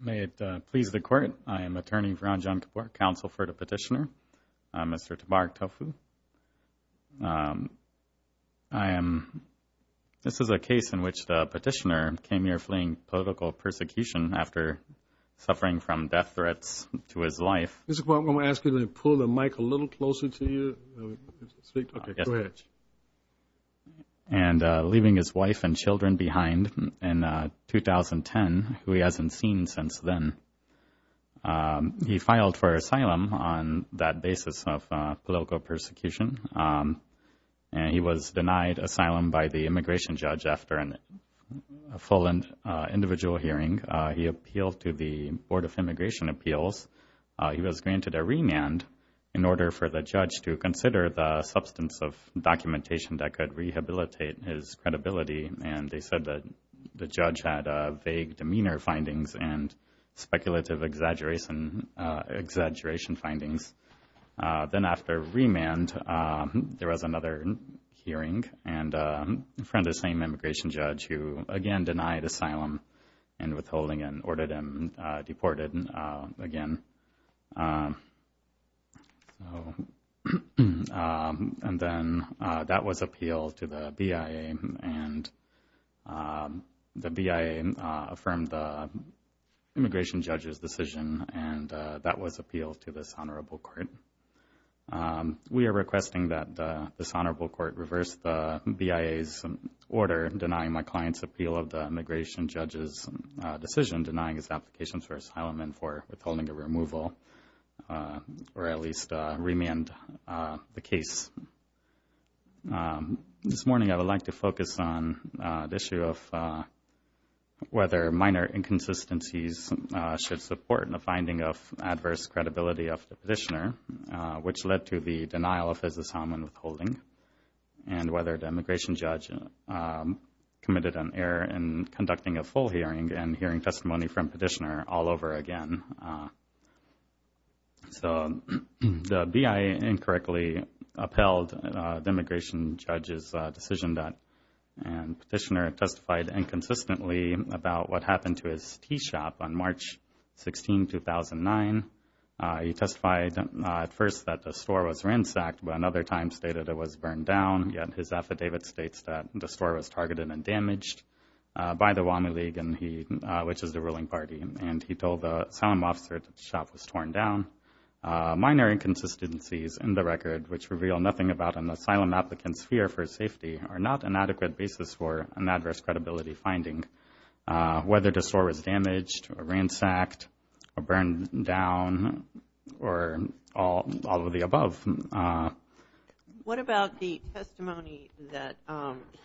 May it please the Court, I am attorney for Anjan Kapoor, counsel for the petitioner, Mr. Tabarak Tofu. This is a case in which the petitioner came here fleeing political persecution after suffering from death threats to his life. Mr. Kapoor, I'm going to ask you to pull the mic a little closer to you. Leaving his wife and children behind in 2010, who he hasn't seen since then, he filed for asylum on that basis of political persecution, and he was denied asylum by the immigration judge after a full and individual hearing. He appealed to the Board of Immigration Appeals. He was granted a remand in order for the judge to consider the substance of documentation that could rehabilitate his credibility, and they said that the judge had vague demeanor findings and speculative exaggeration findings. Then after remand, there was another hearing in front of the same immigration judge who again denied asylum and withholding him, ordered him deported again. And then that was appealed to the BIA, and the BIA affirmed the immigration judge's decision, and that was appealed to this Honorable Court. We are requesting that this Honorable Court reverse the BIA's order denying my client's appeal of the immigration judge's decision denying his applications for asylum and for withholding a removal, or at least remand the case. This morning I would like to focus on the issue of whether minor inconsistencies should support the finding of adverse credibility of the petitioner, which led to the denial of his asylum and withholding, and whether the immigration judge committed an error in conducting a full hearing and hearing testimony from petitioner all over again. So the BIA incorrectly upheld the immigration judge's decision, and petitioner testified inconsistently about what happened to his tea shop on March 16, 2009. He testified at first that the store was ransacked, but another time stated it was burned down, yet his affidavit states that the store was targeted and damaged by the Whammy League, which is the ruling party, and he told the asylum officer that the shop was torn down. Minor inconsistencies in the record, which reveal nothing about an asylum applicant's are not an adequate basis for an adverse credibility finding, whether the store was damaged or ransacked or burned down or all of the above. What about the testimony that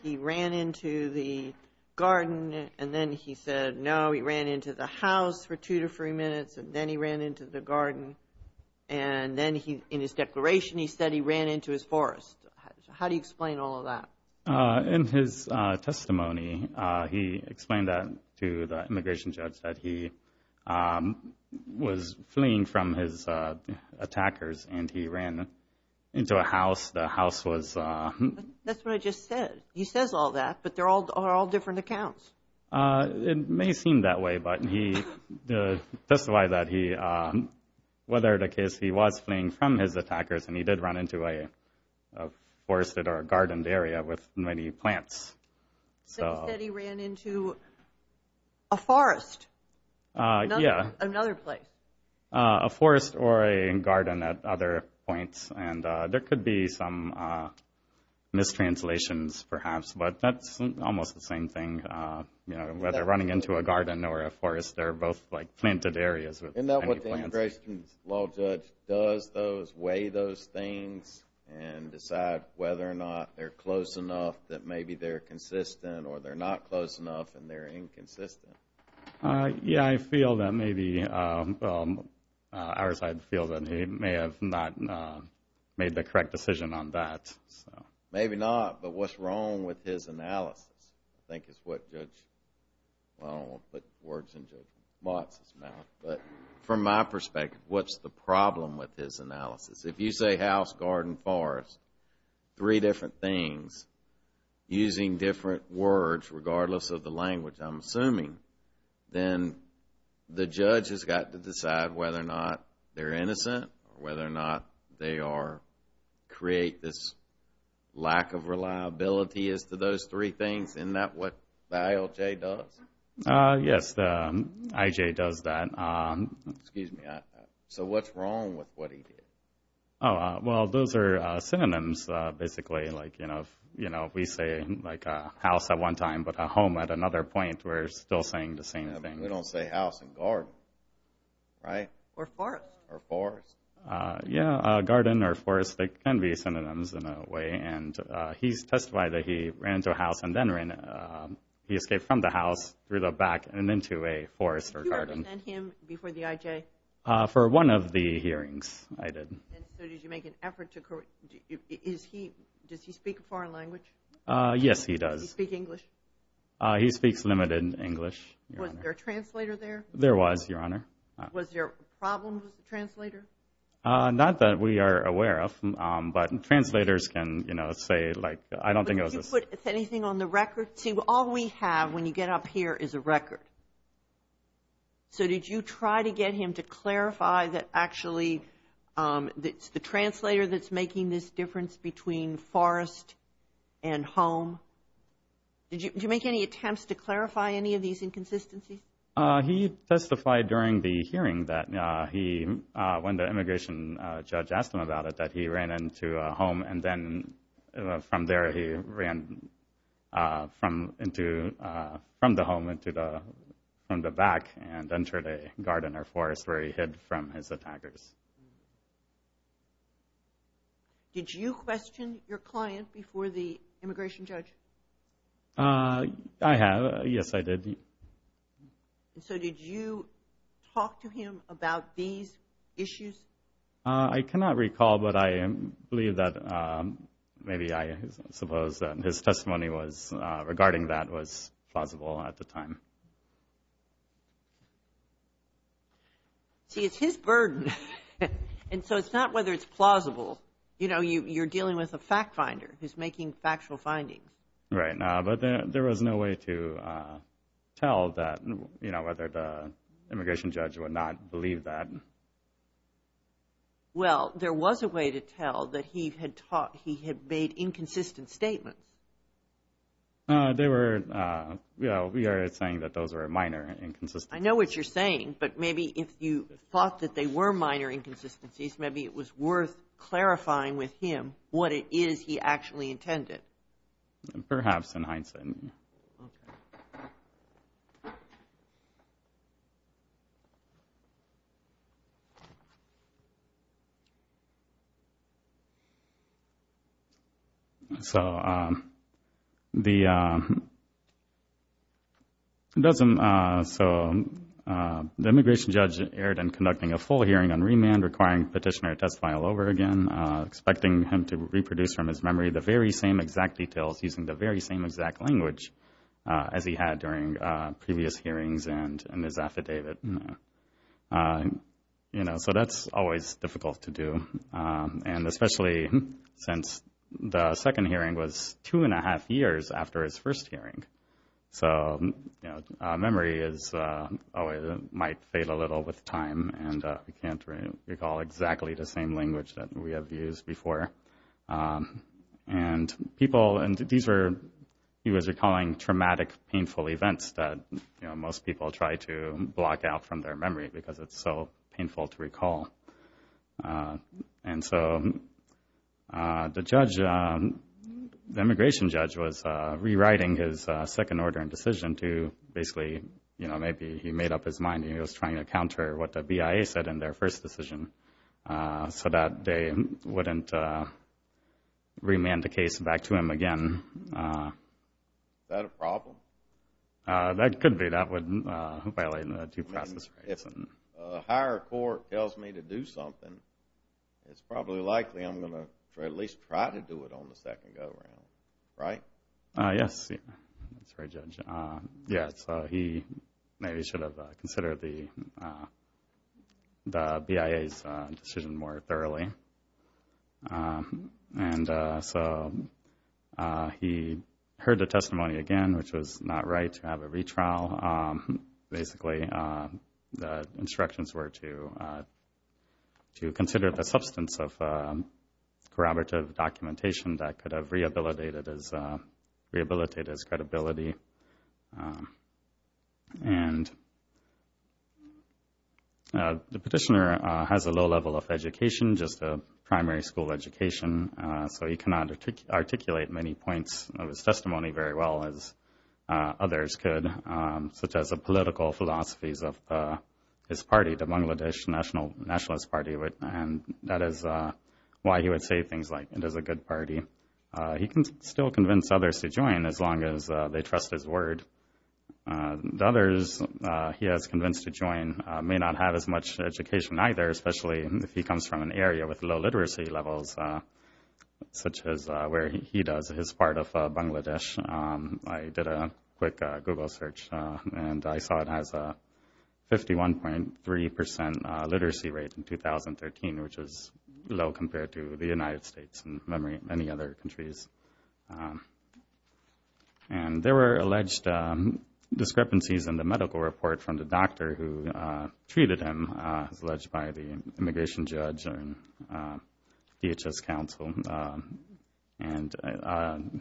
he ran into the garden, and then he said, no, he ran into the house for two to three minutes, and then he ran into the garden, and then in his declaration he said he ran into his forest. How do you explain all of that? In his testimony, he explained that to the immigration judge that he was fleeing from his attackers, and he ran into a house. The house was... That's what I just said. He says all that, but they're all different accounts. It may seem that way, but he testified that he, whether the case he was fleeing from his forested or a gardened area with many plants. So he said he ran into a forest, another place. A forest or a garden at other points, and there could be some mistranslations, perhaps, but that's almost the same thing. Whether running into a garden or a forest, they're both planted areas with many plants. Isn't that what the immigration law judge does, those, weigh those things and decide whether or not they're close enough that maybe they're consistent or they're not close enough and they're inconsistent? Yeah, I feel that maybe, I feel that he may have not made the correct decision on that. Maybe not, but what's wrong with his analysis, I think is what Judge, I don't want to put words in Judge Watts' mouth, but from my perspective, what's the problem with his analysis? If you say house, garden, forest, three different things, using different words regardless of the language I'm assuming, then the judge has got to decide whether or not they're innocent or whether or not they are, create this lack of reliability as to those three things. Isn't that what the ILJ does? Yes, the IJ does that. Excuse me, so what's wrong with what he did? Oh, well, those are synonyms, basically, like, you know, if we say like a house at one time but a home at another point, we're still saying the same thing. We don't say house and garden, right? Or forest. Or forest. Yeah, garden or forest, they can be synonyms in a way, and he's testified that he ran into the house through the back and into a forest or garden. Did you represent him before the IJ? For one of the hearings, I did. And so did you make an effort to, is he, does he speak a foreign language? Yes, he does. Does he speak English? He speaks limited English, Your Honor. Was there a translator there? There was, Your Honor. Was there a problem with the translator? Not that we are aware of, but translators can, you know, say, like, I don't think it was a... Did you put anything on the record? See, all we have when you get up here is a record. So did you try to get him to clarify that actually it's the translator that's making this difference between forest and home? Did you make any attempts to clarify any of these inconsistencies? He testified during the hearing that he, when the immigration judge asked him about it, that he ran into a home, and then from there he ran from into, from the home into the, from the back and entered a garden or forest where he hid from his attackers. Did you question your client before the immigration judge? I have. Yes, I did. And so did you talk to him about these issues? I cannot recall, but I believe that, maybe I suppose that his testimony was, regarding that was plausible at the time. See, it's his burden. And so it's not whether it's plausible. You know, you're dealing with a fact finder who's making factual findings. Right. But there was no way to tell that, you know, whether the immigration judge would not believe that. Well, there was a way to tell that he had taught, he had made inconsistent statements. They were, you know, we are saying that those were minor inconsistencies. I know what you're saying, but maybe if you thought that they were minor inconsistencies, maybe it was worth clarifying with him what it is he actually intended. Perhaps in hindsight. Okay. Thank you. So the immigration judge erred in conducting a full hearing on remand, requiring petitioner to test file over again, expecting him to reproduce from his memory the very same exact language as he had during previous hearings and his affidavit. You know, so that's always difficult to do. And especially since the second hearing was two and a half years after his first hearing. So memory is always, might fail a little with time and we can't recall exactly the same language that we have used before. And people, and these were, he was recalling traumatic, painful events that, you know, most people try to block out from their memory because it's so painful to recall. And so the judge, the immigration judge was rewriting his second order and decision to basically, you know, maybe he made up his mind and he was trying to counter what the remand the case back to him again. Is that a problem? That could be. That would violate the due process. I mean, if a higher court tells me to do something, it's probably likely I'm going to at least try to do it on the second go around, right? Yes. That's right, Judge. Yes. So he maybe should have considered the BIA's decision more thoroughly. And so he heard the testimony again, which was not right to have a retrial. Basically, the instructions were to consider the substance of corroborative documentation that could have rehabilitated his credibility. And the petitioner has a low level of education, just a primary school education, so he cannot articulate many points of his testimony very well as others could, such as the political philosophies of his party, the Bangladesh Nationalist Party, and that is why he would say things like, it is a good party. He can still convince others to join as long as they trust his word. The others he has convinced to join may not have as much education either, especially if he comes from an area with low literacy levels, such as where he does, his part of Bangladesh. I did a quick Google search and I saw it has a 51.3% literacy rate in 2013, which is low compared to the United States and many other countries. And there were alleged discrepancies in the medical report from the doctor who treated him, as alleged by the immigration judge and DHS counsel. And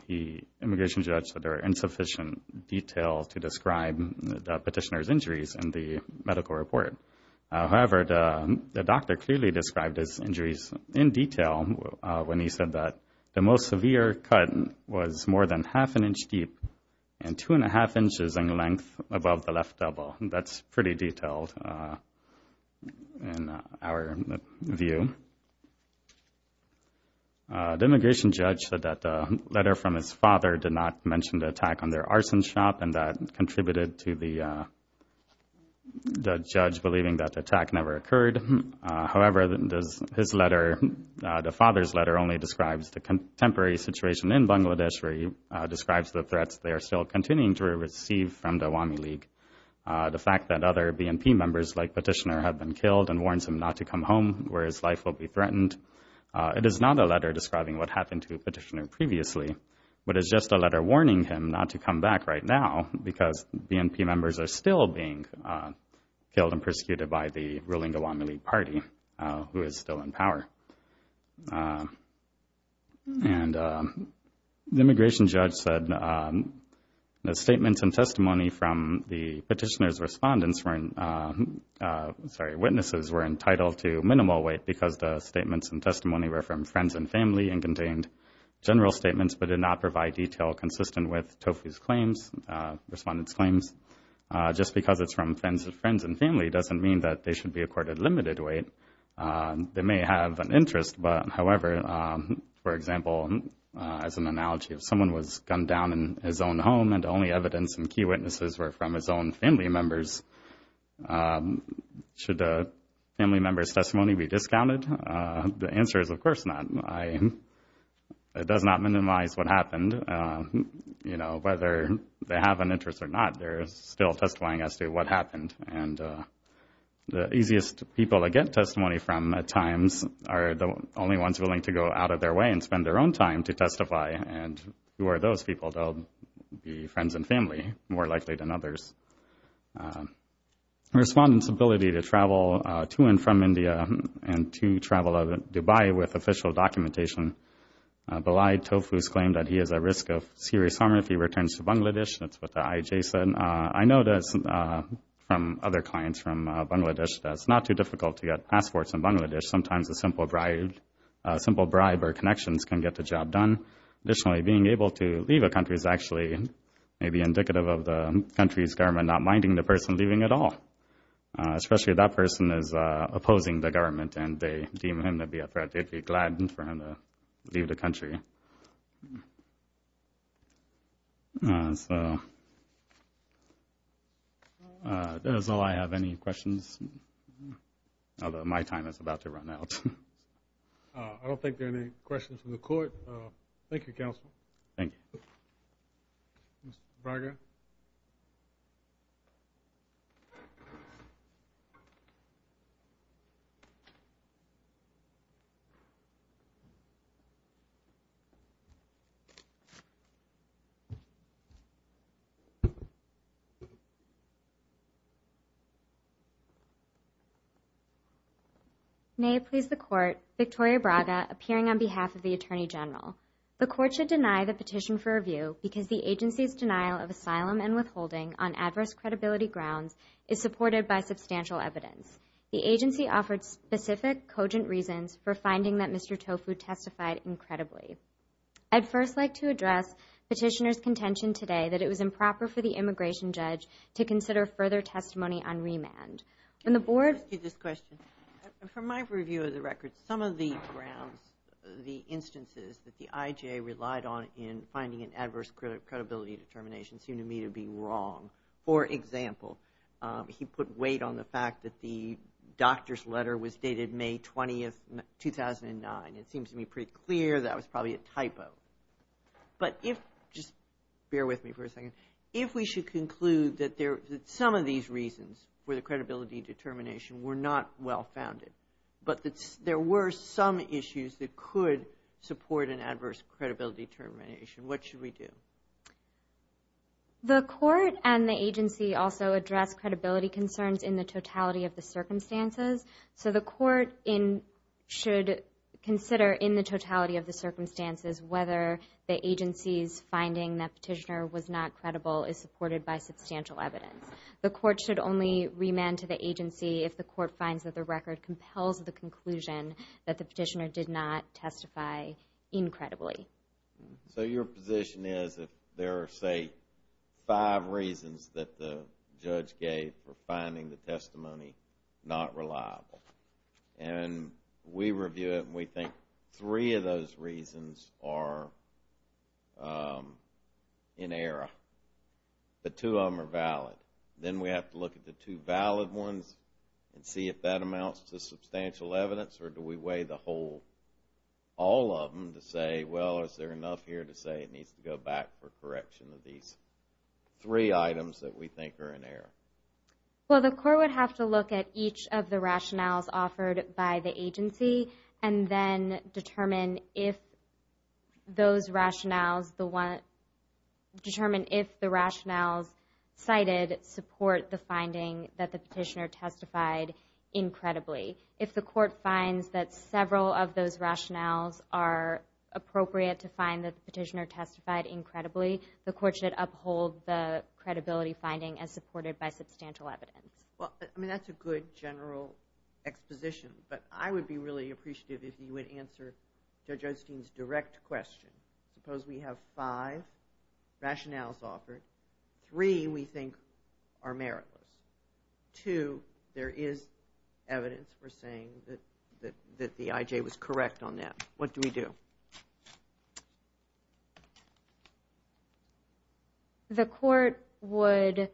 the immigration judge said there were insufficient details to describe the petitioner's injuries in the medical report. However, the doctor clearly described his injuries in detail when he said that the most severe cut was more than half an inch deep and two and a half inches in length above the left elbow. That's pretty detailed in our view. The immigration judge said that the letter from his father did not mention the attack on their arson shop and that contributed to the judge believing that the attack never occurred. However, the father's letter only describes the contemporary situation in Bangladesh where he describes the threats they are still continuing to receive from the Awami League. The fact that other BNP members like Petitioner have been killed and warns him not to come home where his life will be threatened. It is not a letter describing what happened to Petitioner previously, but it's just a letter telling him not to come back right now because BNP members are still being killed and persecuted by the ruling Awami League party, who is still in power. And the immigration judge said the statements and testimony from the petitioner's witnesses were entitled to minimal weight because the statements and testimony were from friends and family and contained general statements but did not provide detail consistent with Tofu's claims, respondent's claims. Just because it's from friends and family doesn't mean that they should be accorded limited weight. They may have an interest, but however, for example, as an analogy, if someone was gunned down in his own home and the only evidence and key witnesses were from his own family members, should the family member's testimony be discounted? The answer is of course not. It does not minimize what happened. You know, whether they have an interest or not, they're still testifying as to what happened, and the easiest people to get testimony from at times are the only ones willing to go out of their way and spend their own time to testify, and who are those people? They'll be friends and family, more likely than others. Respondent's ability to travel to and from India and to travel out of Dubai with official documentation belied Tofu's claim that he is at risk of serious harm if he returns to Bangladesh. That's what the IJ said. I know that from other clients from Bangladesh that it's not too difficult to get passports in Bangladesh. Sometimes a simple bribe or connections can get the job done. Additionally, being able to leave a country is actually maybe indicative of the country's government not minding the person leaving at all, especially if that person is opposing the government and they deem him to be a threat. They'd be glad for him to leave the country. That is all I have. Any questions? Although my time is about to run out. I don't think there are any questions from the court. Thank you, Counsel. Thank you. Mr. Braga? Thank you. May it please the Court, Victoria Braga appearing on behalf of the Attorney General. The Court should deny the petition for review because the agency's denial of asylum and withholding on adverse credibility grounds is supported by substantial evidence. The agency offered specific, cogent reasons for finding that Mr. Tofu testified incredibly. I'd first like to address petitioner's contention today that it was improper for the immigration judge to consider further testimony on remand. And the Board… Let me ask you this question. From my review of the records, some of the grounds, the instances that the IJ relied on in finding an adverse credibility determination seem to me to be wrong. For example, he put weight on the fact that the doctor's letter was dated May 20, 2009. It seems to me pretty clear that was probably a typo. But if… Just bear with me for a second. If we should conclude that some of these reasons for the credibility determination were not well-founded, but that there were some issues that could support an adverse credibility determination, what should we do? The court and the agency also address credibility concerns in the totality of the circumstances. So the court should consider in the totality of the circumstances whether the agency's finding that petitioner was not credible is supported by substantial evidence. The court should only remand to the agency if the court finds that the record compels the conclusion that the petitioner did not testify incredibly. So your position is that there are, say, five reasons that the judge gave for finding the testimony not reliable. And we review it and we think three of those reasons are in error. The two of them are valid. Then we have to look at the two valid ones and see if that amounts to substantial evidence or do we weigh the whole, all of them to say, well, is there enough here to say it needs to go back for correction of these three items that we think are in error? Well, the court would have to look at each of the rationales offered by the agency and then determine if those rationales, determine if the rationales cited support the finding that the petitioner testified incredibly. If the court finds that several of those rationales are appropriate to find that the petitioner testified incredibly, the court should uphold the credibility finding as supported by substantial evidence. Well, I mean, that's a good general exposition. But I would be really appreciative if you would answer Judge Osteen's direct question. Suppose we have five rationales offered. Three we think are meritless. Two, there is evidence for saying that the IJ was correct on that. What do we do? The court would,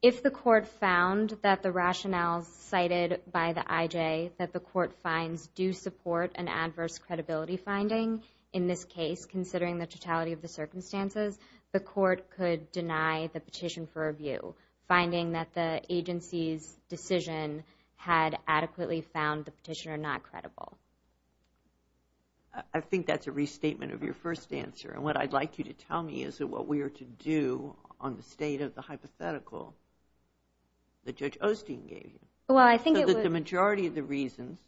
if the court found that the rationales cited by the IJ that the court finds do support an adverse credibility finding, in this case considering the totality of the review, finding that the agency's decision had adequately found the petitioner not credible. I think that's a restatement of your first answer. And what I'd like you to tell me is that what we are to do on the state of the hypothetical that Judge Osteen gave you. Well, I think it would The majority of the reasons,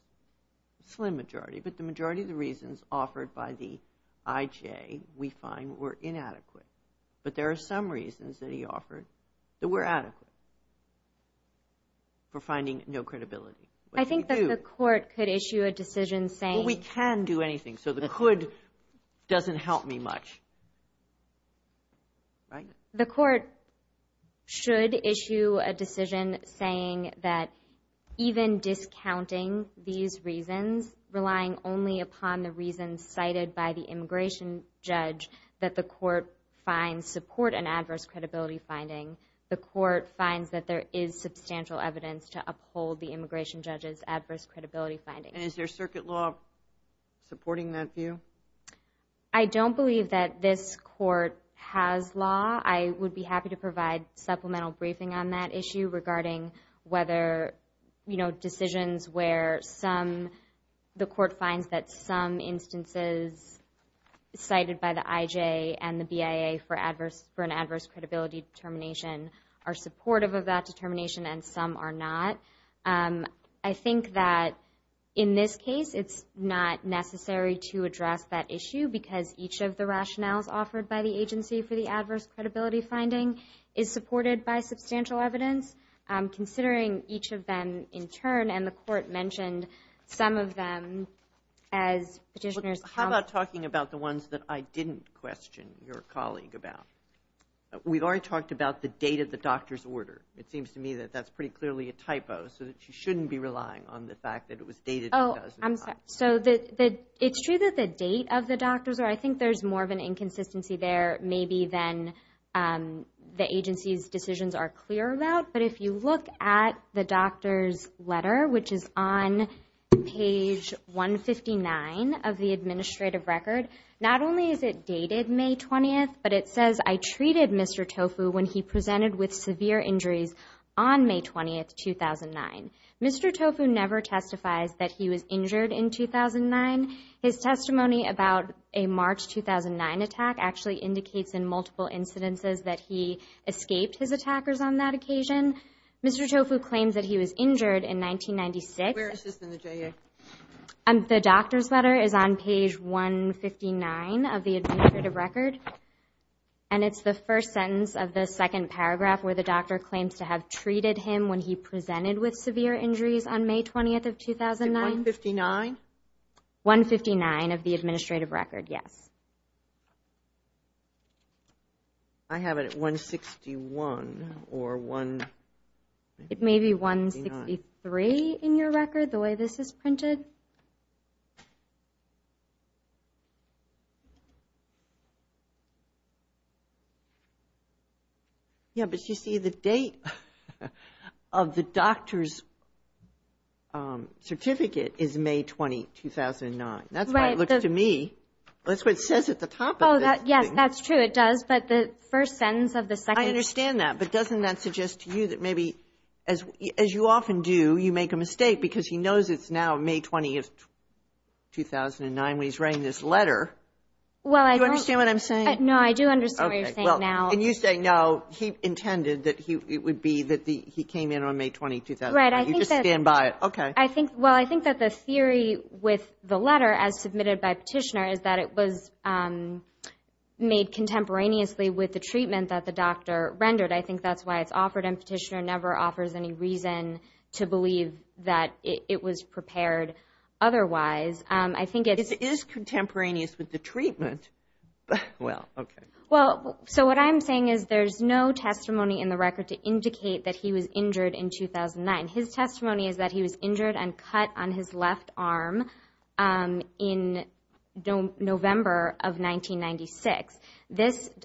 slim majority, but the majority of the reasons offered by the IJ we find were inadequate. But there are some reasons that he offered that were adequate for finding no credibility. I think that the court could issue a decision saying Well, we can do anything. So the could doesn't help me much. The court should issue a decision saying that even discounting these reasons, relying only upon the reasons cited by the immigration judge that the court finds support an adverse credibility finding, the court finds that there is substantial evidence to uphold the immigration judge's adverse credibility finding. And is there circuit law supporting that view? I don't believe that this court has law. I would be happy to provide supplemental briefing on that issue regarding whether, you know, there are decisions where the court finds that some instances cited by the IJ and the BIA for an adverse credibility determination are supportive of that determination and some are not. I think that in this case it's not necessary to address that issue because each of the rationales offered by the agency for the adverse credibility finding is supported by substantial evidence. Considering each of them in turn and the court mentioned some of them as petitioners. How about talking about the ones that I didn't question your colleague about? We've already talked about the date of the doctor's order. It seems to me that that's pretty clearly a typo so that you shouldn't be relying on the fact that it was dated. Oh, I'm sorry. So it's true that the date of the doctor's order. I think there's more of an inconsistency there maybe than the agency's decisions are clear about, but if you look at the doctor's letter, which is on page 159 of the administrative record, not only is it dated May 20th, but it says, I treated Mr. Tofu when he presented with severe injuries on May 20th, 2009. Mr. Tofu never testifies that he was injured in 2009. His testimony about a March 2009 attack actually indicates in multiple incidences that he escaped his attackers on that occasion. Mr. Tofu claims that he was injured in 1996. Where is this in the JA? The doctor's letter is on page 159 of the administrative record, and it's the first sentence of the second paragraph where the doctor claims to have treated him when he presented with severe injuries on May 20th of 2009. 159? 159 of the administrative record, yes. I have it at 161 or 169. It may be 163 in your record, the way this is printed. Yeah, but you see the date of the doctor's certificate is May 20th, 2009. Right. It looks to me, that's what it says at the top of it. Yes, that's true. It does, but the first sentence of the second. I understand that, but doesn't that suggest to you that maybe, as you often do, you make a mistake because he knows it's now May 20th, 2009 when he's writing this letter. Do you understand what I'm saying? No, I do understand what you're saying now. And you say, no, he intended that it would be that he came in on May 20th, 2009. You just stand by it. Okay. Well, I think that the theory with the letter, as submitted by Petitioner, is that it was made contemporaneously with the treatment that the doctor rendered. I think that's why it's offered, and Petitioner never offers any reason to believe that it was prepared otherwise. It is contemporaneous with the treatment. Well, okay. Well, so what I'm saying is there's no testimony in the record to indicate that he was injured in 2009. His testimony is that he was injured and cut on his left arm in November of 1996,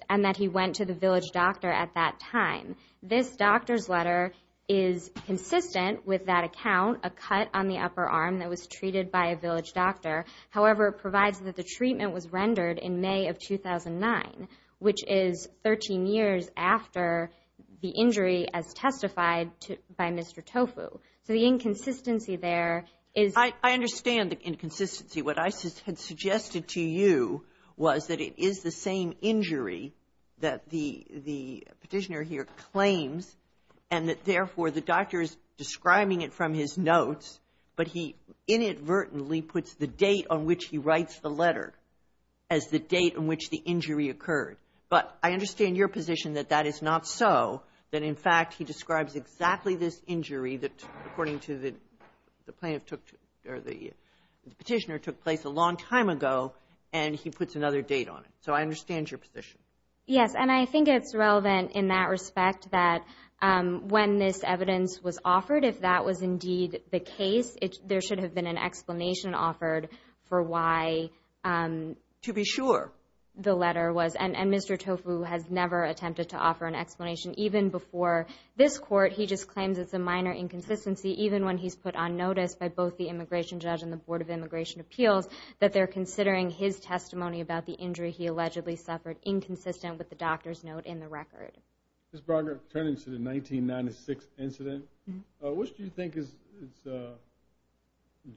and that he went to the village doctor at that time. This doctor's letter is consistent with that account, a cut on the upper arm that was treated by a village doctor. However, it provides that the treatment was rendered in May of 2009, which is 13 years after the injury as testified by Mr. Tofu. So the inconsistency there is — I understand the inconsistency. What I had suggested to you was that it is the same injury that the Petitioner here claims and that, therefore, the doctor is describing it from his notes, but he inadvertently puts the date on which he writes the letter as the date on which the injury occurred. But I understand your position that that is not so, that, in fact, he describes exactly this injury that, according to the Petitioner, took place a long time ago, and he puts another date on it. So I understand your position. Yes. And I think it's relevant in that respect that when this evidence was offered, if that was indeed the case, there should have been an explanation offered for why, to be sure, the letter was — and Mr. Tofu has never attempted to offer an explanation, even before this Court. He just claims it's a minor inconsistency, even when he's put on notice by both the Immigration Judge and the Board of Immigration Appeals that they're considering his testimony about the injury he allegedly suffered inconsistent with the doctor's note in the record. Ms. Broderick, turning to the 1996 incident, what do you think is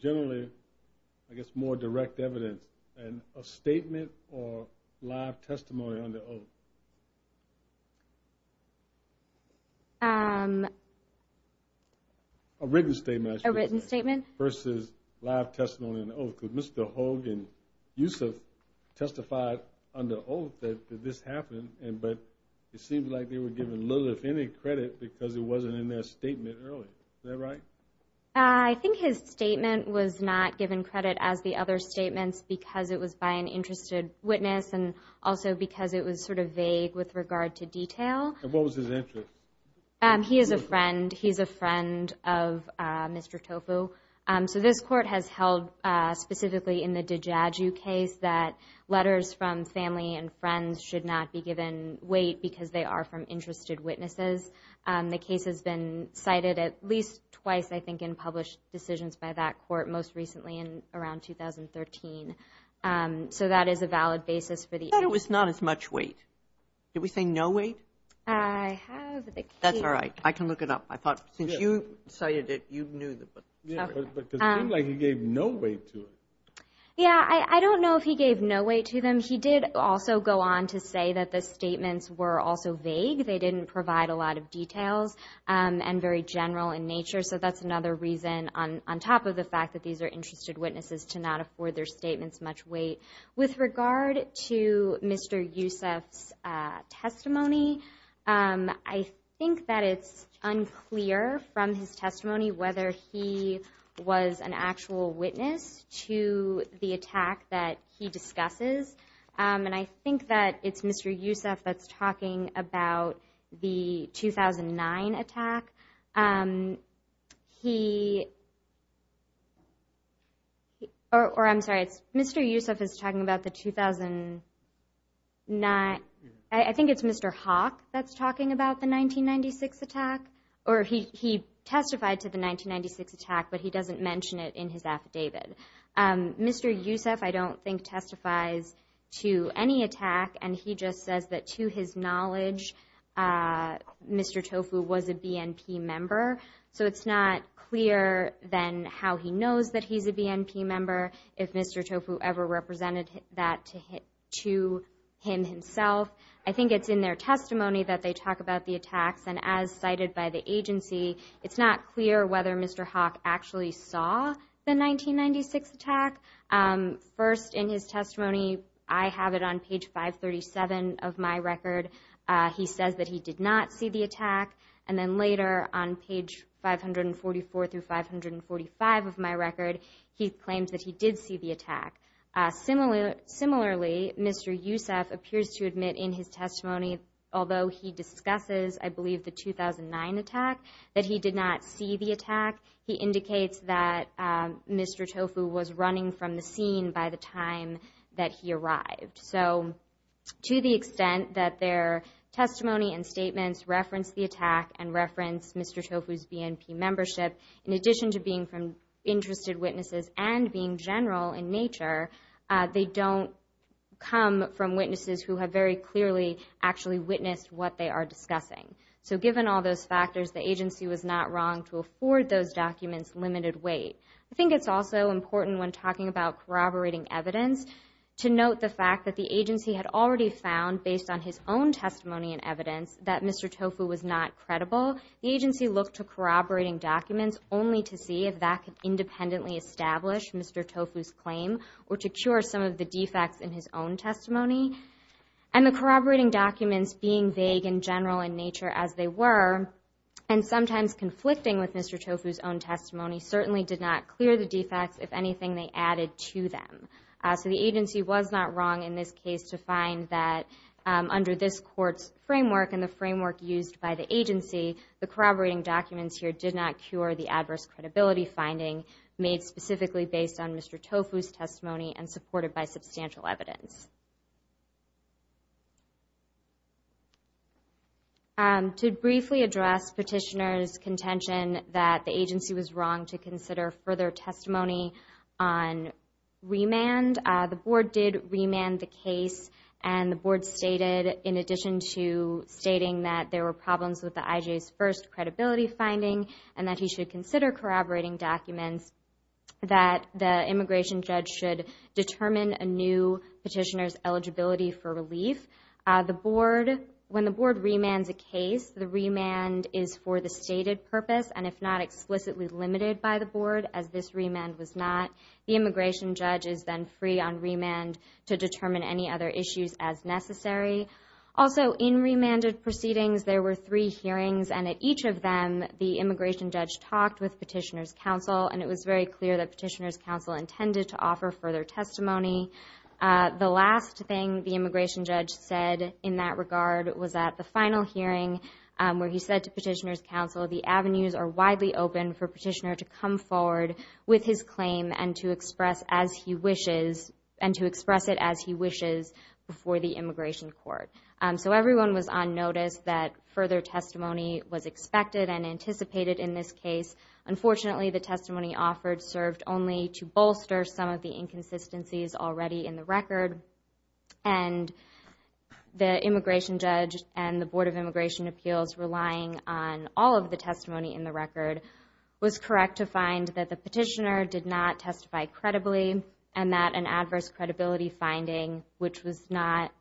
generally, I guess, more direct evidence? A statement or live testimony under oath? A written statement, I should say. A written statement. Versus live testimony under oath. Could Mr. Hogue and Yusuf testify under oath that this happened, but it seems like they were given little, if any, credit because it wasn't in their statement earlier. Is that right? I think his statement was not given credit as the other statements because it was by an interested witness and also because it was sort of vague with regard to detail. And what was his interest? He is a friend. He's a friend of Mr. Tofu. So this Court has held, specifically in the DiGiagi case, that letters from family and friends should not be given weight because they are from interested witnesses. The case has been cited at least twice, I think, in published decisions by that Court most recently in around 2013. So that is a valid basis for the... But it was not as much weight. Did we say no weight? I have the case... That's all right. I can look it up. I thought since you cited it, you knew the... Yeah, but it seemed like he gave no weight to it. Yeah, I don't know if he gave no weight to them. He did also go on to say that the statements were also vague. They didn't provide a lot of details and very general in nature. So that's another reason on top of the fact that these are interested witnesses to not afford their statements much weight. With regard to Mr. Youssef's testimony, I think that it's unclear from his testimony whether he was an actual witness to the attack that he discusses. And I think that it's Mr. Youssef that's talking about the 2009 attack. Or I'm sorry, Mr. Youssef is talking about the 2009... I think it's Mr. Hawk that's talking about the 1996 attack. Or he testified to the 1996 attack, but he doesn't mention it in his affidavit. Mr. Youssef, I don't think, testifies to any attack. And he just says that to his knowledge, Mr. Tofu was a BNP member. So it's not clear then how he knows that he's a BNP member, if Mr. Tofu ever represented that to him himself. I think it's in their testimony that they talk about the attacks. And as cited by the agency, it's not clear whether Mr. Hawk actually saw the 1996 attack. First, in his testimony, I have it on page 537 of my record. He says that he did not see the attack. And then later, on page 544 through 545 of my record, he claims that he did see the attack. Similarly, Mr. Youssef appears to admit in his testimony, although he discusses, I believe, the 2009 attack, that he did not see the attack. He indicates that Mr. Tofu was running from the scene by the time that he arrived. So to the extent that their testimony and statements reference the attack and reference Mr. Tofu's BNP membership, in addition to being from interested witnesses and being general in nature, they don't come from witnesses who have very clearly actually witnessed what they are discussing. So given all those factors, the agency was not wrong to afford those documents limited weight. I think it's also important when talking about corroborating evidence to note the fact that the agency had already found, based on his own testimony and evidence, that Mr. Tofu was not credible. The agency looked to corroborating documents only to see if that could independently establish Mr. Tofu's claim or to cure some of the defects in his own testimony. And the corroborating documents, being vague and general in nature as they were, and sometimes conflicting with Mr. Tofu's own testimony, certainly did not clear the defects, if anything, they added to them. So the agency was not wrong in this case to find that, under this court's framework and the framework used by the agency, the corroborating documents here did not cure the adverse credibility finding made specifically based on Mr. Tofu's testimony and supported by substantial evidence. To briefly address Petitioner's contention that the agency was wrong to consider further testimony on remand, the Board did remand the case and the Board stated, in addition to stating that there were problems with the IJ's first credibility finding and that he should consider corroborating documents, that the immigration judge should determine a new Petitioner's eligibility for relief. When the Board remands a case, the remand is for the stated purpose and if not explicitly limited by the Board, as this remand was not. The immigration judge is then free on remand to determine any other issues as necessary. Also, in remanded proceedings, there were three hearings and at each of them, the immigration judge talked with Petitioner's counsel and it was very clear that Petitioner's counsel intended to offer further testimony. The last thing the immigration judge said in that regard was at the final hearing where he said to Petitioner's counsel, the avenues are widely open for Petitioner to come forward with his claim and to express it as he wishes before the immigration court. So everyone was on notice that further testimony was expected and anticipated in this case. Unfortunately, the testimony offered served only to bolster some of the inconsistencies already in the record and the immigration judge and the Board of Immigration Appeals relying on all of the testimony in the record was correct to find that the Petitioner did not testify credibly and that an adverse credibility finding, which was not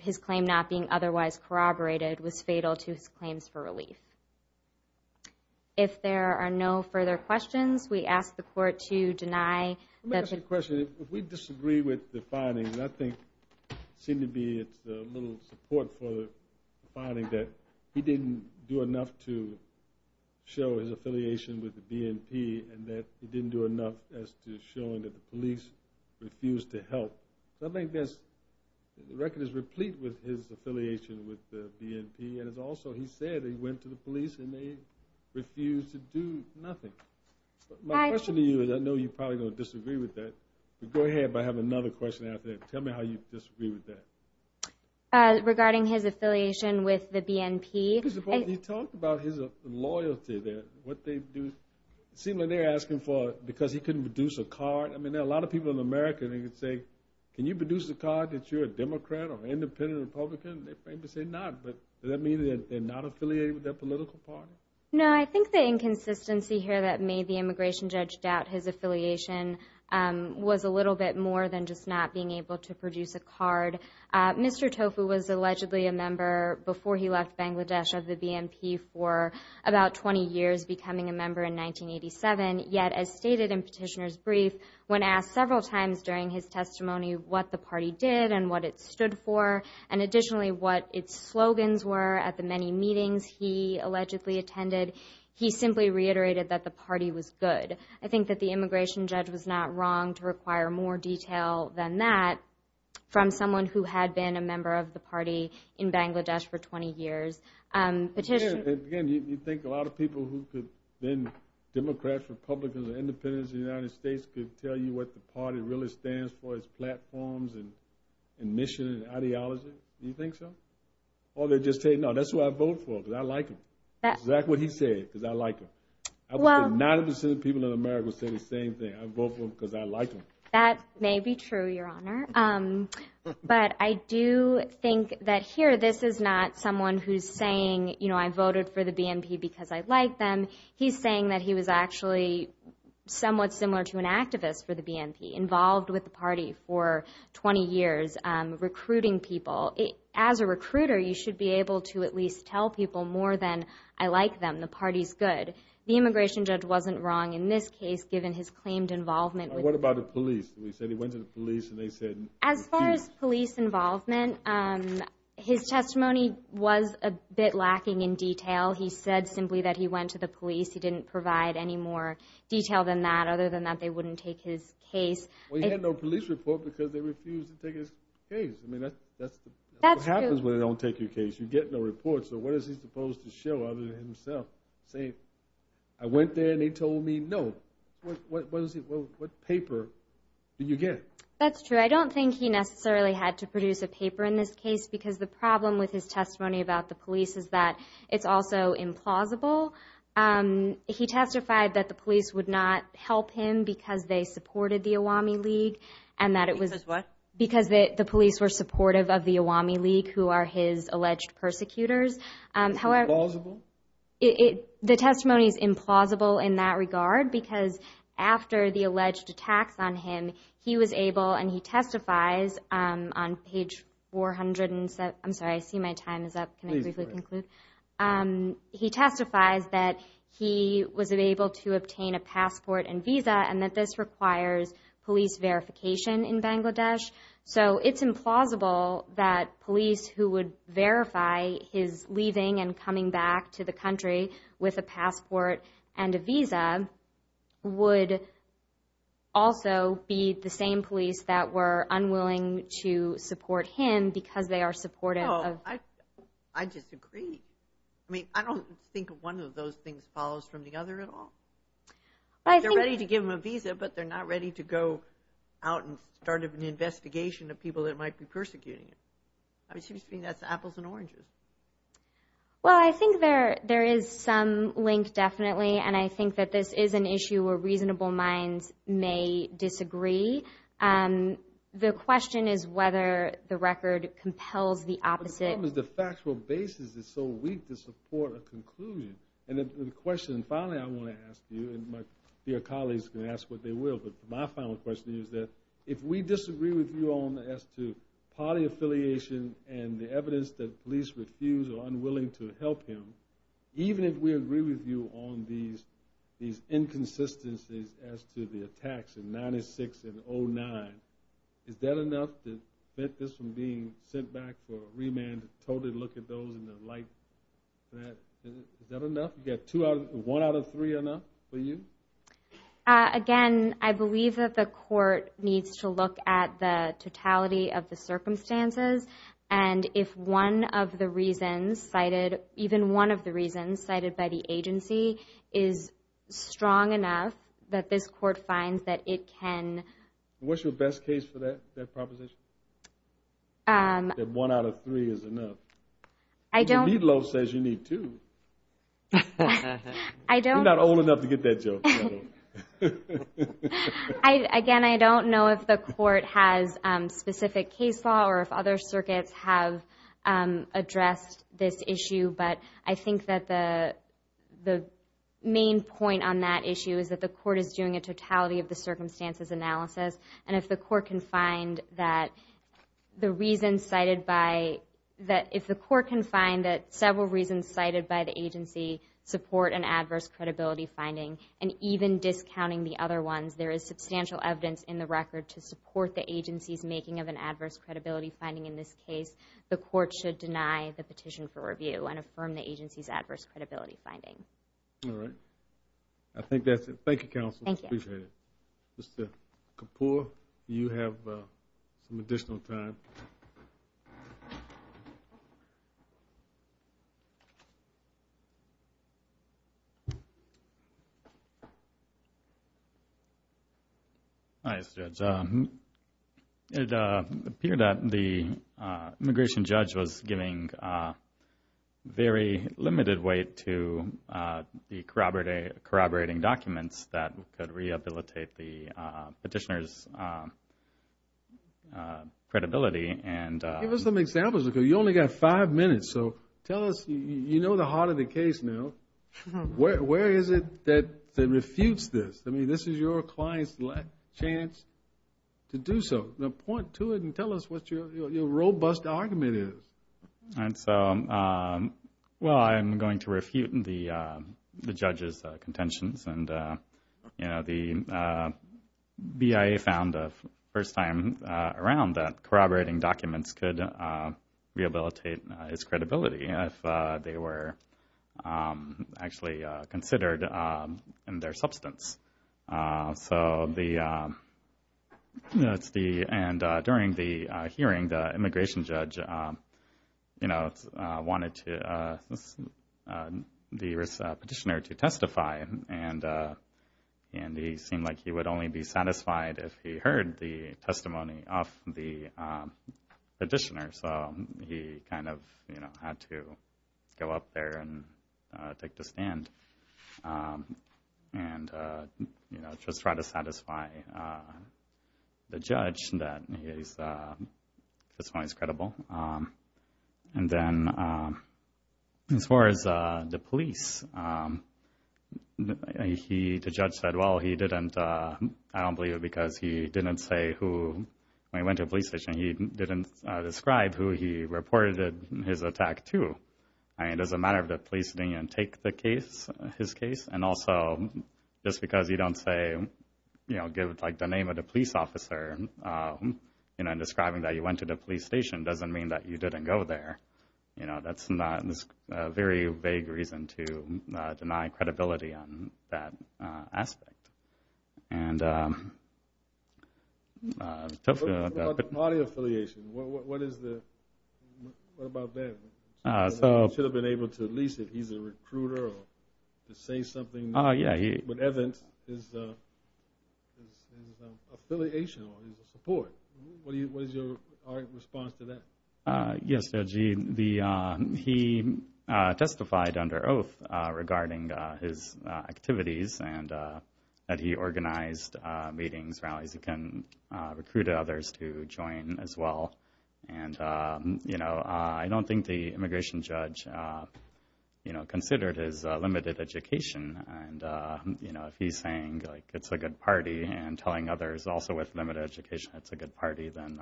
his claim not being otherwise corroborated, was fatal to his claims for relief. If there are no further questions, we ask the court to deny... Let me ask you a question. If we disagree with the findings, I think it seems to be it's a little support for the finding that he didn't do enough to show his affiliation with the BNP and that he didn't do enough as to showing that the police refused to help. I think the record is replete with his affiliation with the BNP and it's also, he said he went to the police and they refused to do nothing. My question to you is, I know you're probably going to disagree with that, but go ahead but I have another question after that. Tell me how you disagree with that. Regarding his affiliation with the BNP... You talked about his loyalty there, what they do. It seemed like they were asking for it because he couldn't produce a card. I mean, there are a lot of people in America that could say, can you produce a card that you're a Democrat or an independent Republican? They're afraid to say not, but does that mean they're not affiliated with their political party? No, I think the inconsistency here that made the immigration judge doubt his affiliation was a little bit more than just not being able to produce a card. Mr. Tofu was allegedly a member before he left Bangladesh of the BNP for about 20 years becoming a member in 1987, yet as stated in Petitioner's Brief when asked several times during his testimony what the party did and what it stood for and additionally what its slogans were at the many meetings he allegedly attended, he simply reiterated that the party was good. I think that the immigration judge was not wrong to require more detail than that from someone who had been a member of the party in Bangladesh for 20 years. Again, you think a lot of people who have been Democrats, Republicans or independents in the United States could tell you what the party really stands for as platforms and mission and ideology? Do you think so? Or they just say, no, that's who I vote for because I like him. That's exactly what he said, because I like him. I think 90% of people in America say the same thing. I vote for him because I like him. That may be true, Your Honor. But I do think that here this is not someone who's saying, you know, I voted for the BNP because I like them. He's saying that he was actually somewhat similar to an activist for the BNP, involved with the party for 20 years recruiting people. As a recruiter, you should be able to at least tell people more than, I like them, the party's good. The immigration judge wasn't wrong in this case, given his claimed involvement. What about the police? He said he went to the police and they said... As far as police involvement, his testimony was a bit lacking in detail. He said simply that he went to the police. He didn't provide any more detail than that, other than that they wouldn't take his case. Well, he had no police report because they refused to take his case. I mean, that's what happens when they don't take your case. You get no report. So what is he supposed to show other than himself? Say, I went there and they told me no. What paper did you get? That's true. I don't think he necessarily had to produce a paper in this case because the problem with his testimony about the police is that it's also implausible. He testified that the police would not help him because they supported the Awami League. Because what? Because the police were supportive of the Awami League, who are his alleged persecutors. It's implausible? The testimony is implausible in that regard because after the alleged attacks on him he was able, and he testifies on page 407. I'm sorry, I see my time is up. Can I briefly conclude? He testifies that he was able to obtain a passport and visa and that this requires police verification in Bangladesh. So it's implausible that police who would verify his leaving and coming back to the country with a passport and a visa would also be the same police that were unwilling to support him because they are supportive of... I disagree. I mean, I don't think one of those things follows from the other at all. They're ready to give him a visa but they're not ready to go out and start an investigation of people that might be persecuting him. I mean, it seems to me that's apples and oranges. Well, I think there is some link, definitely, and I think that this is an issue where reasonable minds may disagree. The question is whether the record compels the opposite. But the problem is the factual basis is so weak to support a conclusion. And the question, finally, I want to ask you and your colleagues can ask what they will, but my final question is that if we party affiliation and the evidence that police refuse or are unwilling to help him, even if we agree with you on these inconsistencies as to the attacks in 96 and 09, is that enough to prevent this from being sent back for a remand to totally look at those and the like? Is that enough? You got one out of three enough for you? Again, I believe that the court needs to look at the totality of the circumstances and if one of the reasons cited, even one of the reasons cited by the agency is strong enough that this court finds that it can... What's your best case for that proposition? That one out of three is enough? I don't... The meatloaf says you need two. I don't... You're not old enough to get that joke. Again, I don't know if the court has specific case law or if other circuits have addressed this issue, but I think that the main point on that issue is that the court is doing a totality of the circumstances analysis and if the court can find that the reasons cited by... If the court can find that several reasons cited by the agency support an even discounting the other ones, there is substantial evidence in the record to support the agency's making of an adverse credibility finding in this case. The court should deny the petition for review and affirm the agency's adverse credibility finding. All right. I think that's it. Thank you, Counsel. Thank you. Appreciate it. Mr. Kapoor, do you have some additional time? Hi, Mr. Judge. It appeared that the immigration judge was giving very limited weight to the corroborating documents that could rehabilitate the petitioner's credibility. Give us some examples. You only got five minutes, so tell us... You know the heart of the case now. Where is it that refutes this? I mean, this is your client's last chance to do so. Point to it and tell us what your robust argument is. Well, I'm going to refute the judge's contentions. The BIA found the first time around that corroborating documents could rehabilitate his credibility if they were actually considered in their substance. During the hearing, the immigration judge wanted the petitioner to testify, and he seemed like he would only be satisfied if he heard the testimony of the petitioner. So he kind of had to go up there and take the stand and just try to satisfy the judge that his testimony is credible. And then, as far as the police, the judge said, well, he didn't I don't believe it because he didn't say who... When he went to describe who he reported his attack to. I mean, as a matter of the police didn't take the case, his case, and also just because you don't say, you know, give like the name of the police officer in describing that you went to the police station doesn't mean that you didn't go there. You know, that's not a very vague reason to deny credibility on that aspect. And... What about the party affiliation? What about that? He should have been able to at least, if he's a recruiter, to say something with evidence his affiliation or his support. What is your response to that? He testified under oath regarding his activities and that he organized meetings, rallies, he can recruit others to join as well. And, you know, I don't think the immigration judge considered his limited education and if he's saying it's a good party and telling others also with limited education it's a good party, then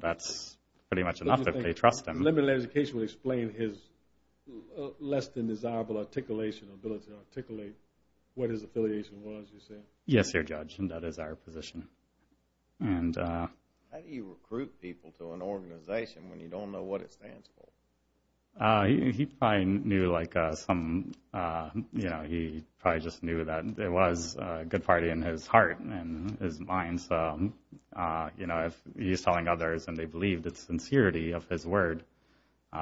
that's pretty much enough if they trust him. Limited education would explain his less than desirable articulation, ability to articulate what his affiliation was, you say? Yes, your judge, and that is our position. How do you recruit people to an organization when you don't know what it stands for? He probably knew like some you know, he probably just knew that it was a good party in his heart and his mind. So, you know, if he's telling others and they believe the sincerity of his word, you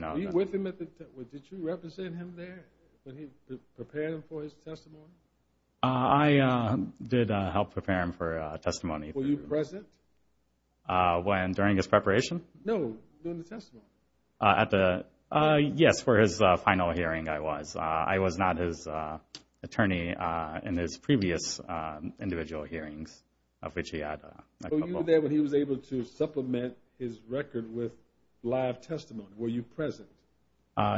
know... Were you with him at the... Did you represent him there? Did you prepare him for his testimony? I did help prepare him for testimony. Were you present? During his preparation? No, during the testimony. Yes, for his final hearing I was. I was not his attorney in his previous individual hearings of which he had... So you were there when he was able to supplement his record with live testimony. Were you present?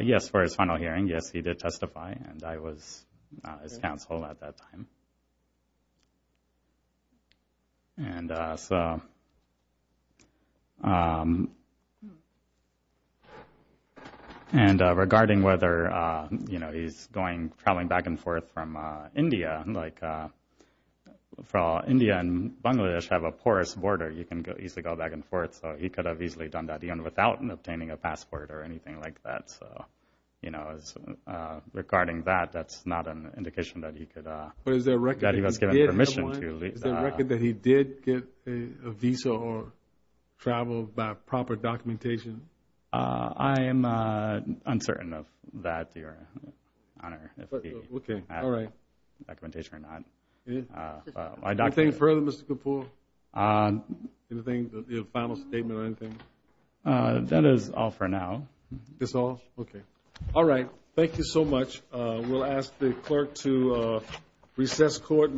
Yes, for his final hearing. Yes, he did testify and I was his counsel at that time. And so... And regarding whether, you know, he's going, traveling back and forth from India like... India and Bangladesh have a porous border. You can easily go back and forth, so he could have easily done that even without obtaining a passport or anything like that. So, you know, regarding that, that's not an indication that he could... But is there a record that he did have one? That he was given permission to... Is there a record that he did get a visa or travel by proper documentation? I'm uncertain of that, Your Honor. If he had documentation or not. Anything further, Mr. Kapoor? Any final statement or anything? That is all for now. That's all? Okay. All right. Thank you so much. We'll ask the clerk to recess court.